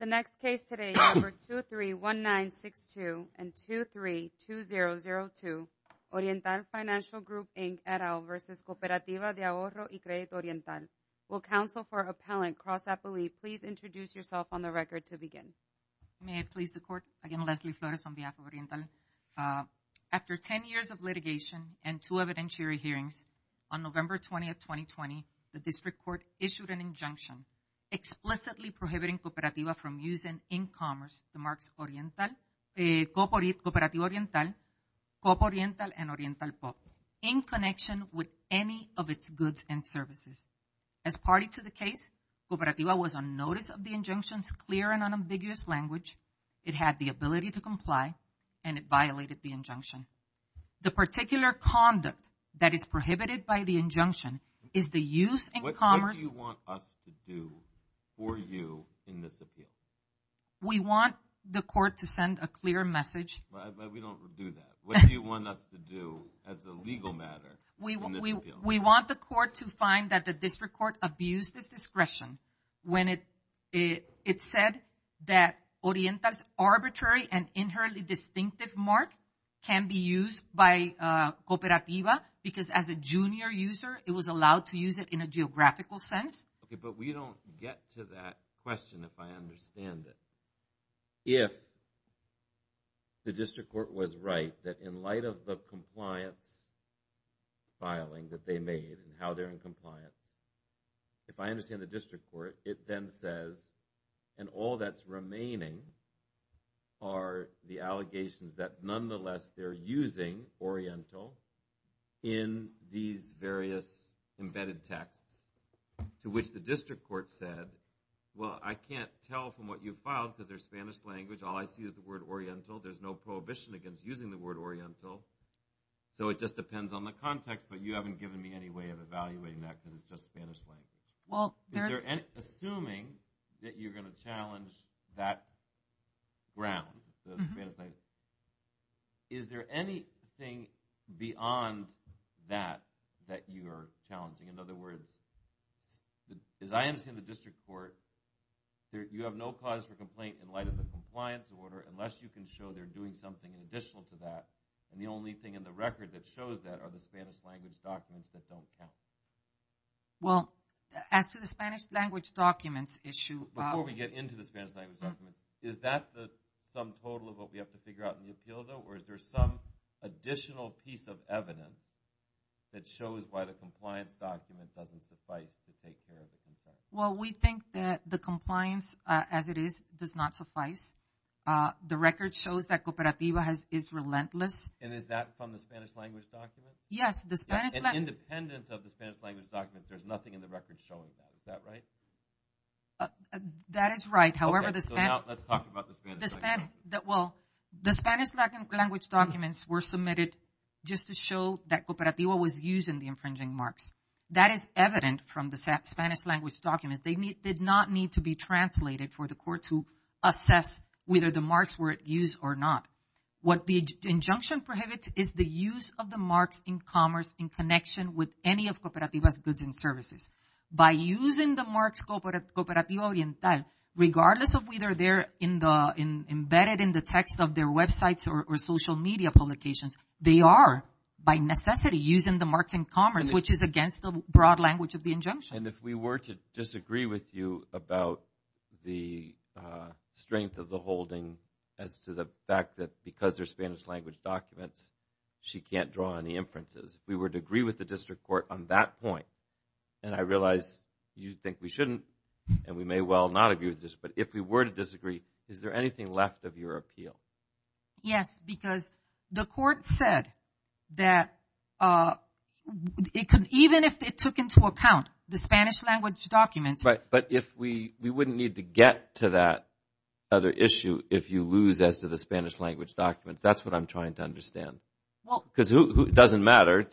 The next case today, number 231962 and 232002, Oriental Financial Group, Inc. et al. v. Cooperativa de Ahorro y Credito Oriental. Will counsel for appellant, Cross Appleby, please introduce yourself on the record to begin. May it please the court. Again, Leslie Flores on behalf of Oriental. After 10 years of litigation and two evidentiary hearings, on November 20th, 2020, the District Court issued an injunction explicitly prohibiting Cooperativa from using in-commerce, the marks Cooperativa Oriental, Coop Oriental, and Oriental Pop in connection with any of its goods and services. As party to the case, Cooperativa was on notice of the injunction's clear and unambiguous language, it had the ability to comply, and it violated the injunction. The particular conduct that is prohibited by the injunction is the use in commerce. What do you want us to do for you in this appeal? We want the court to send a clear message. But we don't do that. What do you want us to do as a legal matter in this appeal? We want the court to find that the District Court abused its discretion when it said that Oriental's arbitrary and inherently distinctive mark can be used by Cooperativa because as a junior user it was allowed to use it in a geographical sense. Okay, but we don't get to that question if I understand it. If the District Court was right that in light of the compliance filing that they made and how they're in compliance, if I understand the District Court, it then says, and all that's remaining are the allegations that nonetheless they're using Oriental in these various embedded texts to which the District Court said, well, I can't tell from what you've filed because they're Spanish language, all I see is the word Oriental, there's no prohibition against using the word Oriental, so it just depends on the context, but you haven't given me any way of evaluating that because it's just Spanish language. Assuming that you're going to challenge that ground, the Spanish language, is there anything beyond that that you are challenging? In other words, as I understand the District Court, you have no cause for complaint in light of the compliance order unless you can show they're doing something additional to that and the only thing in the record that shows that are the Spanish language documents that don't count. Well, as to the Spanish language documents issue... Before we get into the Spanish language documents, is that the sum total of what we have to figure out in the appeal, though, or is there some additional piece of evidence that shows why the compliance document doesn't suffice to take care of the complaint? Well, we think that the compliance, as it is, does not suffice. The record shows that Cooperativa is relentless. And is that from the Spanish language documents? Yes, the Spanish language... Independent of the Spanish language documents, there's nothing in the record showing that, is that right? That is right, however, the Spanish... Okay, so now let's talk about the Spanish language documents. Well, the Spanish language documents were submitted just to show that Cooperativa was used in the infringing marks. That is evident from the Spanish language documents. They did not need to be translated for the court to assess whether the marks were used or not. What the injunction prohibits is the use of the marks in commerce in connection with any of Cooperativa's goods and services. By using the marks Cooperativa Oriental, regardless of whether they're embedded in the text of their websites or social media publications, they are, by necessity, using the marks in commerce, which is against the broad language of the injunction. And if we were to disagree with you about the strength of the holding as to the fact that because they're Spanish language documents, she can't draw any inferences, if we were to agree with the district court on that point, and I realize you think we shouldn't, and we may well not agree with this, but if we were to disagree, is there anything left of your appeal? Yes, because the court said that even if it took into account the Spanish language documents... Right, but we wouldn't need to get to that other issue if you lose as to the Spanish language documents. That's what I'm trying to understand, because it doesn't matter.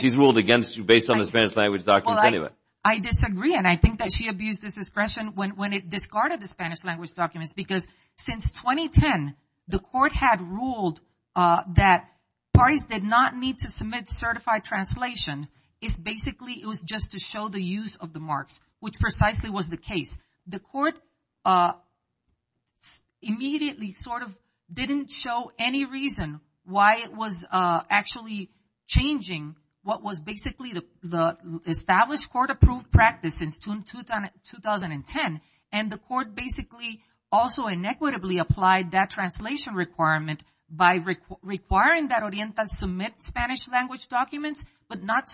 She's ruled against you based on the Spanish language documents anyway. I disagree, and I think that she abused the discretion when it discarded the Spanish language documents, because since 2010, the court had ruled that parties did not need to submit certified translations. It's basically, it was just to show the use of the marks, which precisely was the case. The court immediately sort of didn't show any reason why it was actually changing what was basically the established court-approved practice since June 2010, and the court basically also inequitably applied that translation requirement by requiring that Orienta submit Spanish language documents, but not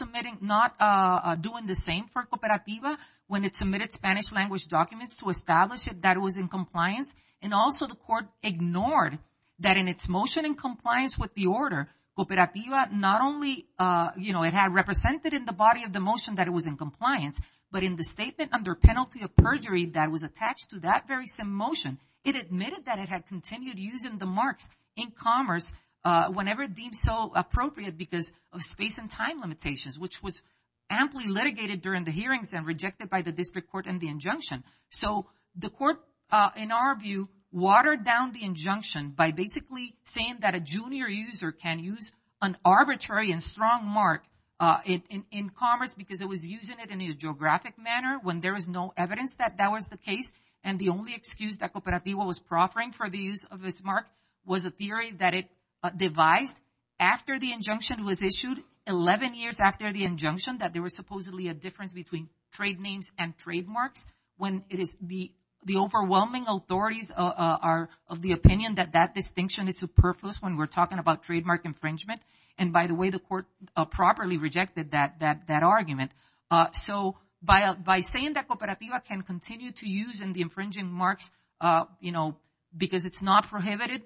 doing the same for Cooperativa when it submitted Spanish language documents to establish that it was in compliance, and also the court ignored that in its motion in compliance with the order, Cooperativa not only, you know, it had represented in the body of the motion that it was in compliance, but in the statement under penalty of perjury that was attached to that very same motion, it admitted that it had continued using the marks in commerce whenever deemed so appropriate because of space and time limitations, which was amply litigated during the hearings and rejected by the district court and the injunction. So the court, in our view, watered down the injunction by basically saying that a junior user can use an arbitrary and strong mark in commerce because it was using it in a geographic manner when there was no evidence that that was the case, and the only excuse that Cooperativa was proffering for the use of this mark was a theory that it devised after the injunction was issued, 11 years after the injunction, that there was supposedly a difference between trade names and trademarks, when it is the overwhelming authorities of the opinion that that distinction is superfluous when we're talking about trademark infringement, and by the way, the court properly rejected that argument. So by saying that Cooperativa can continue to use the infringing marks because it's not prohibited,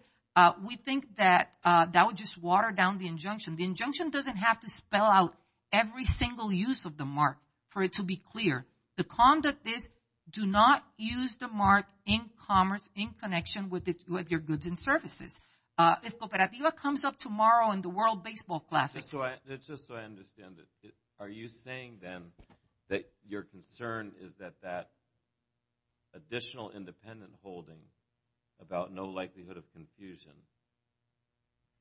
we think that that would just water down the injunction. The injunction doesn't have to spell out every single use of the mark for it to be clear. The conduct is do not use the mark in commerce in connection with your goods and services. If Cooperativa comes up tomorrow in the World Baseball Classic… Just so I understand it, are you saying then that your concern is that that additional independent holding about no likelihood of confusion,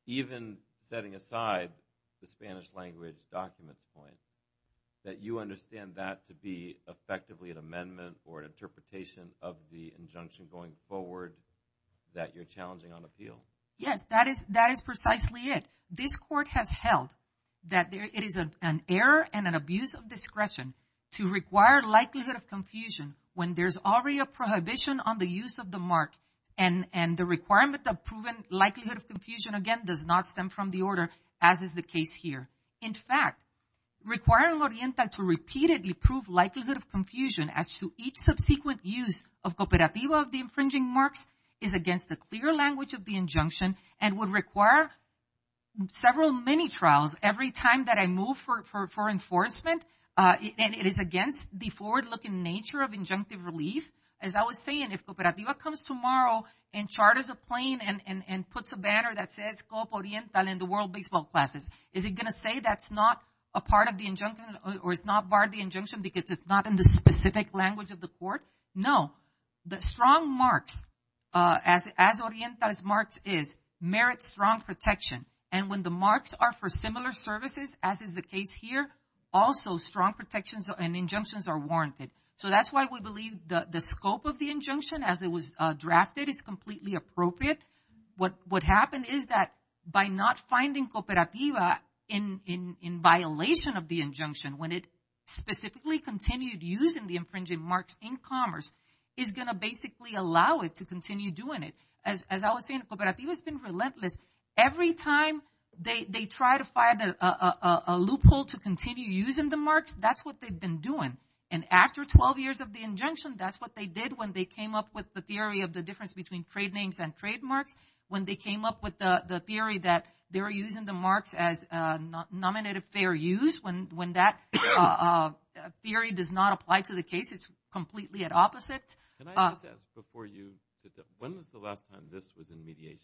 even setting aside the Spanish language document point, that you understand that to be effectively an amendment or an interpretation of the injunction going forward that you're challenging on appeal? Yes, that is precisely it. This court has held that it is an error and an abuse of discretion to require likelihood of confusion when there's already a prohibition on the use of the mark and the requirement of proven likelihood of confusion, again, does not stem from the order as is the case here. In fact, requiring Oriental to repeatedly prove likelihood of confusion as to each subsequent use of Cooperativa of the infringing marks is against the clear language of the injunction and would require several mini-trials every time that I move for enforcement, and it is against the forward-looking nature of injunctive relief. As I was saying, if Cooperativa comes tomorrow and charters a plane and puts a banner that says Copo Oriental in the World Baseball Classics, is it going to say that's not a part of the injunction or it's not part of the injunction because it's not in the specific language of the court? No. The strong marks, as Oriental's marks is, merit strong protection, and when the marks are for similar services, as is the case here, also strong protections and injunctions are warranted. So that's why we believe the scope of the injunction, as it was drafted, is completely appropriate. What happened is that by not finding Cooperativa in violation of the injunction, when it specifically continued using the infringing marks in commerce, is going to basically allow it to continue doing it. As I was saying, Cooperativa has been relentless. Every time they try to find a loophole to continue using the marks, that's what they've been doing. And after 12 years of the injunction, that's what they did when they came up with the theory of the difference between trade names and trademarks, when they came up with the theory that they're using the marks as a nominative fair use, when that theory does not apply to the case. It's completely at opposite. Can I just ask before you, when was the last time this was in mediation?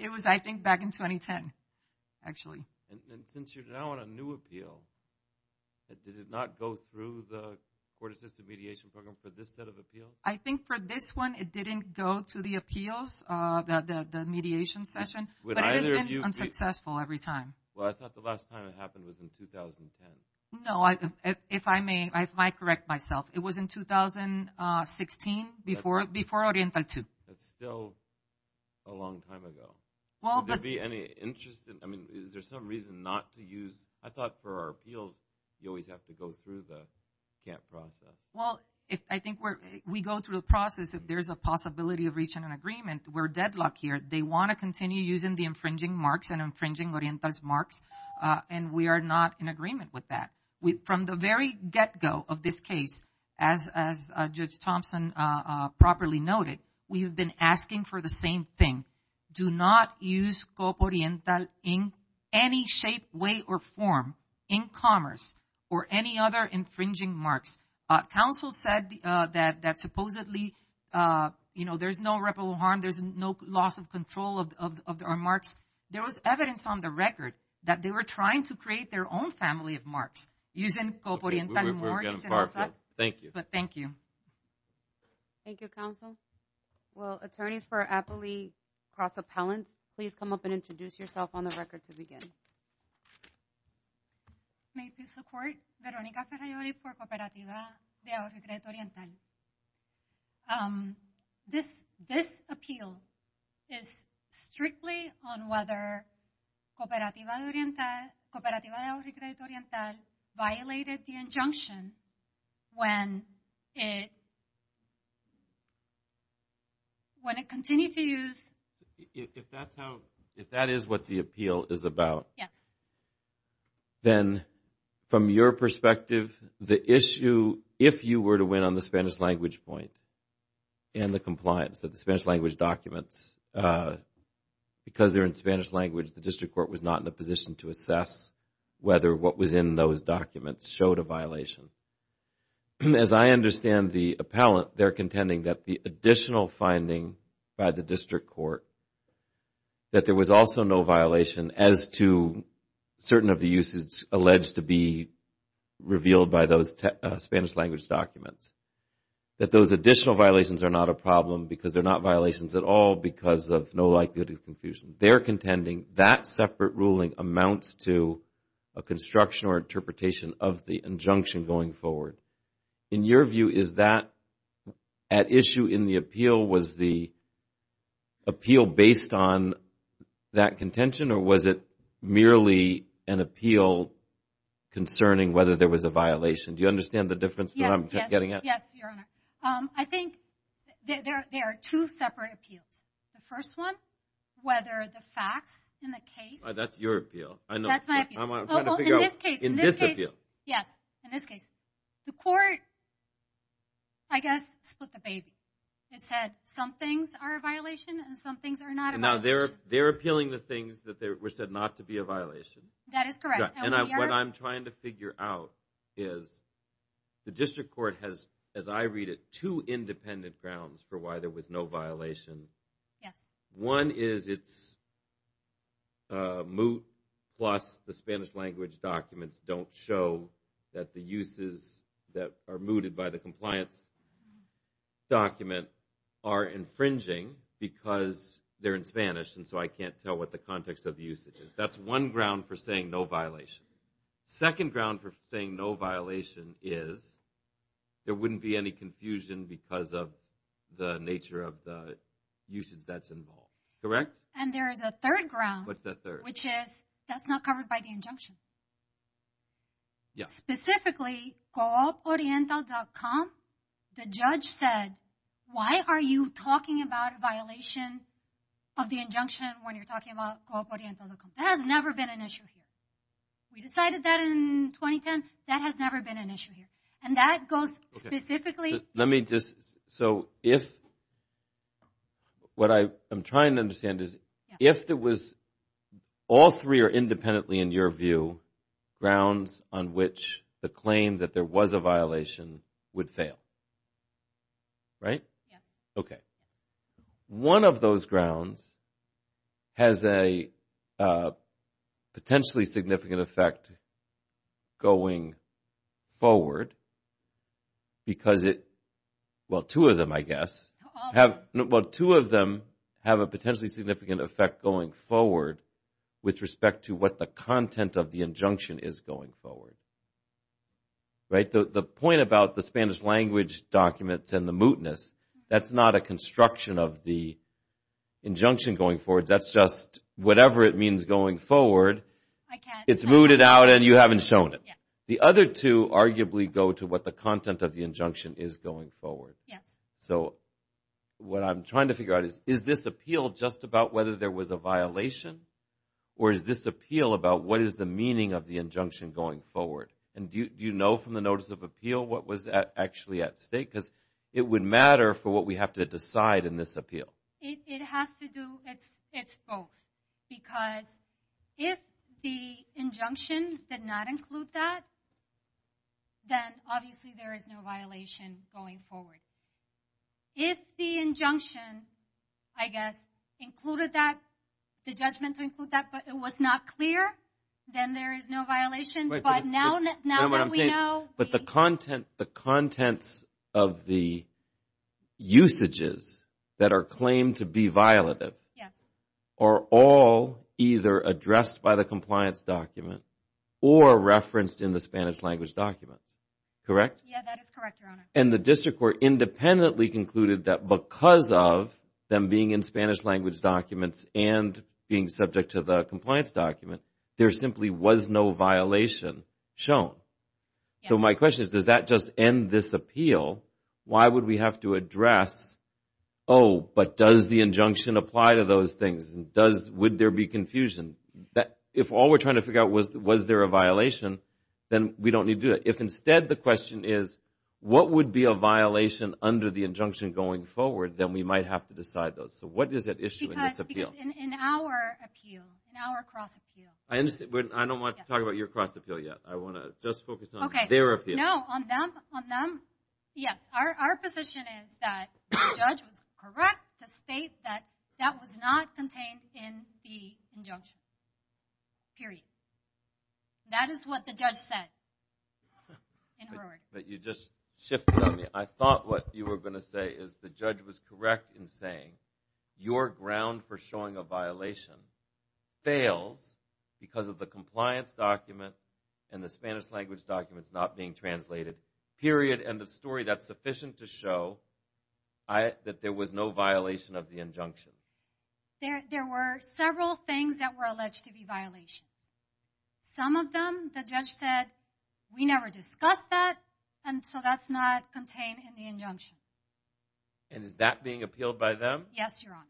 It was, I think, back in 2010, actually. And since you're now on a new appeal, did it not go through the Court-Assisted Mediation Program for this set of appeals? I think for this one, it didn't go to the appeals, the mediation session. But it has been unsuccessful every time. Well, I thought the last time it happened was in 2010. No, if I may, I might correct myself. It was in 2016, before Oriental 2. That's still a long time ago. Would there be any interest in, I mean, is there some reason not to use, I thought for our appeals, you always have to go through the camp process. Well, I think we go through the process. If there's a possibility of reaching an agreement, we're deadlocked here. They want to continue using the infringing marks and infringing Oriental's marks, and we are not in agreement with that. From the very get-go of this case, as Judge Thompson properly noted, we have been asking for the same thing. Do not use Copa Oriental in any shape, way, or form in commerce or any other infringing marks. Council said that supposedly there's no reputable harm, there's no loss of control of our marks. There was evidence on the record that they were trying to create their own family of marks using Copa Oriental mortgages. Thank you. Thank you. Thank you, Council. Well, attorneys for Appley Cross Appellant, please come up and introduce yourself on the record to begin. May I please support Veronica Ferraioli for Cooperativa de Agua Recreta Oriental? This appeal is strictly on whether Cooperativa de Agua Recreta Oriental violated the injunction when it continued to use. If that is what the appeal is about, then from your perspective, the issue if you were to win on the Spanish language point and the compliance of the Spanish language documents, because they're in Spanish language, the district court was not in a position to assess whether what was in those documents showed a violation. As I understand the appellant, they're contending that the additional finding by the district court that there was also no violation as to certain of the uses alleged to be revealed by those Spanish language documents, that those additional violations are not a problem because they're not violations at all because of no likelihood of confusion. They're contending that separate ruling amounts to a construction or interpretation of the injunction going forward. In your view, is that at issue in the appeal, was the appeal based on that contention or was it merely an appeal concerning whether there was a violation? Do you understand the difference that I'm getting at? Yes, Your Honor. I think there are two separate appeals. The first one, whether the facts in the case. That's your appeal. That's my appeal. I'm trying to figure out in this appeal. Yes, in this case. The court, I guess, split the baby. It said some things are a violation and some things are not a violation. Now they're appealing the things that were said not to be a violation. That is correct. What I'm trying to figure out is the district court has, as I read it, two independent grounds for why there was no violation. One is it's moot plus the Spanish language documents don't show that the uses that are mooted by the compliance document are infringing because they're in Spanish and so I can't tell what the context of the usage is. That's one ground for saying no violation. Second ground for saying no violation is there wouldn't be any confusion because of the nature of the usage that's involved. Correct? And there is a third ground. What's that third? Which is that's not covered by the injunction. Yes. Specifically, cooporiental.com, the judge said, why are you talking about a violation of the injunction when you're talking about cooporiental.com? That has never been an issue here. We decided that in 2010. That has never been an issue here. And that goes specifically. Let me just, so if, what I'm trying to understand is, if it was all three are independently, in your view, grounds on which the claim that there was a violation would fail, right? Yes. Okay. One of those grounds has a potentially significant effect going forward because it, well, two of them, I guess, have, well, two of them have a potentially significant effect going forward with respect to what the content of the injunction is going forward. Right? The point about the Spanish language documents and the mootness, that's not a construction of the injunction going forward. That's just whatever it means going forward. I can't. It's mooted out and you haven't shown it. The other two arguably go to what the content of the injunction is going forward. Yes. So what I'm trying to figure out is, is this appeal just about whether there was a violation? Or is this appeal about what is the meaning of the injunction going forward? And do you know from the notice of appeal what was actually at stake? Because it would matter for what we have to decide in this appeal. It has to do, it's both. Because if the injunction did not include that, then obviously there is no violation going forward. If the injunction, I guess, included that, the judgment to include that, but it was not clear, then there is no violation. But now that we know. But the contents of the usages that are claimed to be violative are all either addressed by the compliance document or referenced in the Spanish language documents, correct? Yes, that is correct, Your Honor. And the district court independently concluded that because of them being in Spanish language documents and being subject to the compliance document, there simply was no violation shown. So my question is, does that just end this appeal? Why would we have to address, oh, but does the injunction apply to those things? Would there be confusion? If all we're trying to figure out was, was there a violation, then we don't need to do that. If instead the question is, what would be a violation under the injunction going forward, then we might have to decide those. So what is at issue in this appeal? In our appeal, in our cross-appeal. I don't want to talk about your cross-appeal yet. I want to just focus on their appeal. No, on them. Yes, our position is that the judge was correct to state that that was not contained in the injunction, period. That is what the judge said. But you just shifted on me. I thought what you were going to say is the judge was correct in saying your ground for showing a violation fails because of the compliance document and the Spanish language documents not being translated, period, and the story that's sufficient to show that there was no violation of the injunction. There were several things that were alleged to be violations. Some of them the judge said, we never discussed that, and so that's not contained in the injunction. And is that being appealed by them? Yes, Your Honor.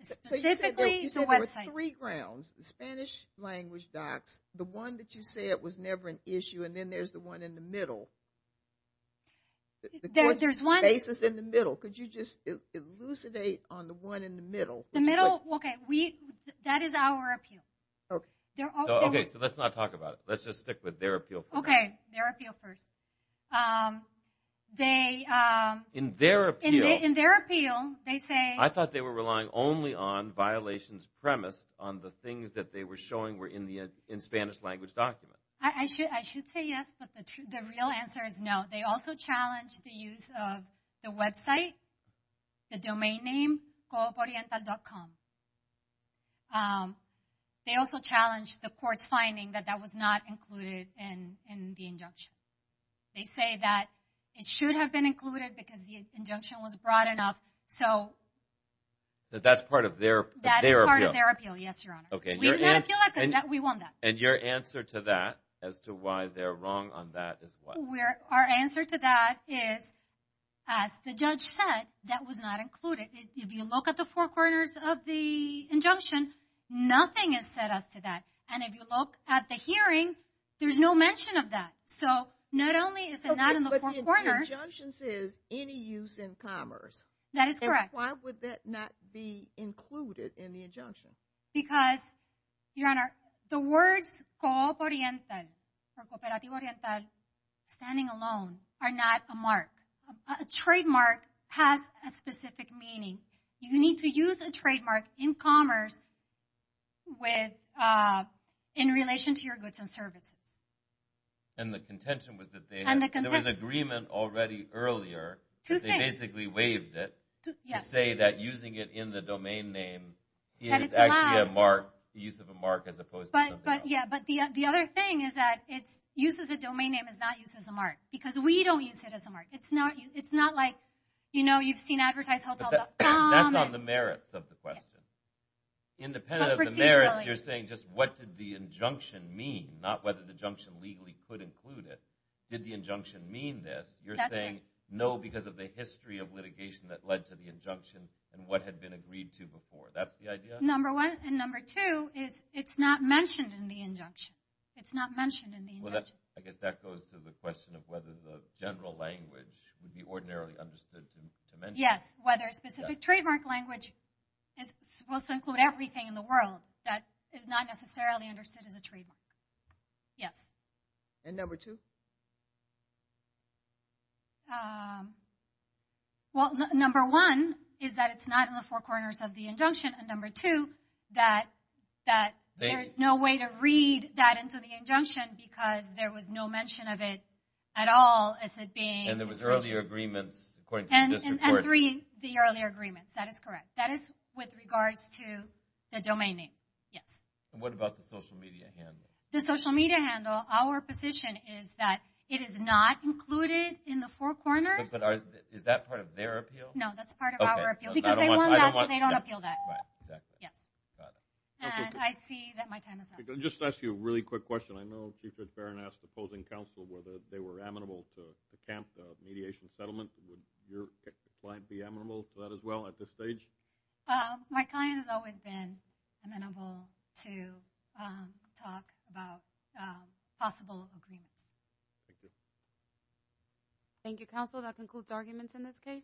Specifically the website. So you said there were three grounds, the Spanish language docs, the one that you said was never an issue, and then there's the one in the middle. The court's basis is in the middle. Could you just elucidate on the one in the middle? The middle? Okay, that is our appeal. Okay, so let's not talk about it. Let's just stick with their appeal first. Okay, their appeal first. They... In their appeal... In their appeal, they say... I thought they were relying only on violations premise on the things that they were showing were in the Spanish language document. I should say yes, but the real answer is no. They also challenged the use of the website, the domain name, govoriental.com. They also challenged the court's finding that that was not included in the injunction. They say that it should have been included because the injunction was broad enough, so... But that's part of their appeal. That is part of their appeal, yes, Your Honor. We want that. And your answer to that, as to why they're wrong on that, is what? Our answer to that is, as the judge said, that was not included. If you look at the four corners of the injunction, nothing is set up to that. And if you look at the hearing, there's no mention of that. So, not only is it not in the four corners... Okay, but the injunction says, any use in commerce. That is correct. And why would that not be included in the injunction? Because, Your Honor, the words cooperativo oriental, standing alone, are not a mark. A trademark has a specific meaning. You need to use a trademark in commerce in relation to your goods and services. And the contention was that there was agreement already earlier. Two things. They basically waived it to say that using it in the domain name is actually a mark, the use of a mark as opposed to something else. Yeah, but the other thing is that use as a domain name is not use as a mark. Because we don't use it as a mark. It's not like, you know, you've seen advertised hotel.com. That's on the merits of the question. Independent of the merits, you're saying just what did the injunction mean, not whether the injunction legally could include it. Did the injunction mean this? You're saying no because of the history of litigation that led to the injunction and what had been agreed to before. That's the idea? Number one. And number two is it's not mentioned in the injunction. It's not mentioned in the injunction. I guess that goes to the question of whether the general language would be ordinarily understood to mention. Yes, whether a specific trademark language is supposed to include everything in the world that is not necessarily understood as a trademark. Yes. And number two? Well, number one is that it's not in the four corners of the injunction. And number two, that there's no way to read that into the injunction because there was no mention of it at all as it being in the injunction. And there was earlier agreements according to this report. And three, the earlier agreements. That is correct. That is with regards to the domain name, yes. And what about the social media handle? The social media handle, our position is that it is not included in the four corners. Is that part of their appeal? No, that's part of our appeal because they want that so they don't appeal that. Right, exactly. Yes. Got it. And I see that my time is up. I'm going to just ask you a really quick question. I know Chief FitzFarren asked opposing counsel whether they were amenable to camp mediation settlement. Would your client be amenable to that as well at this stage? My client has always been amenable to talk about possible agreements. Thank you. Thank you, counsel. That concludes arguments in this case.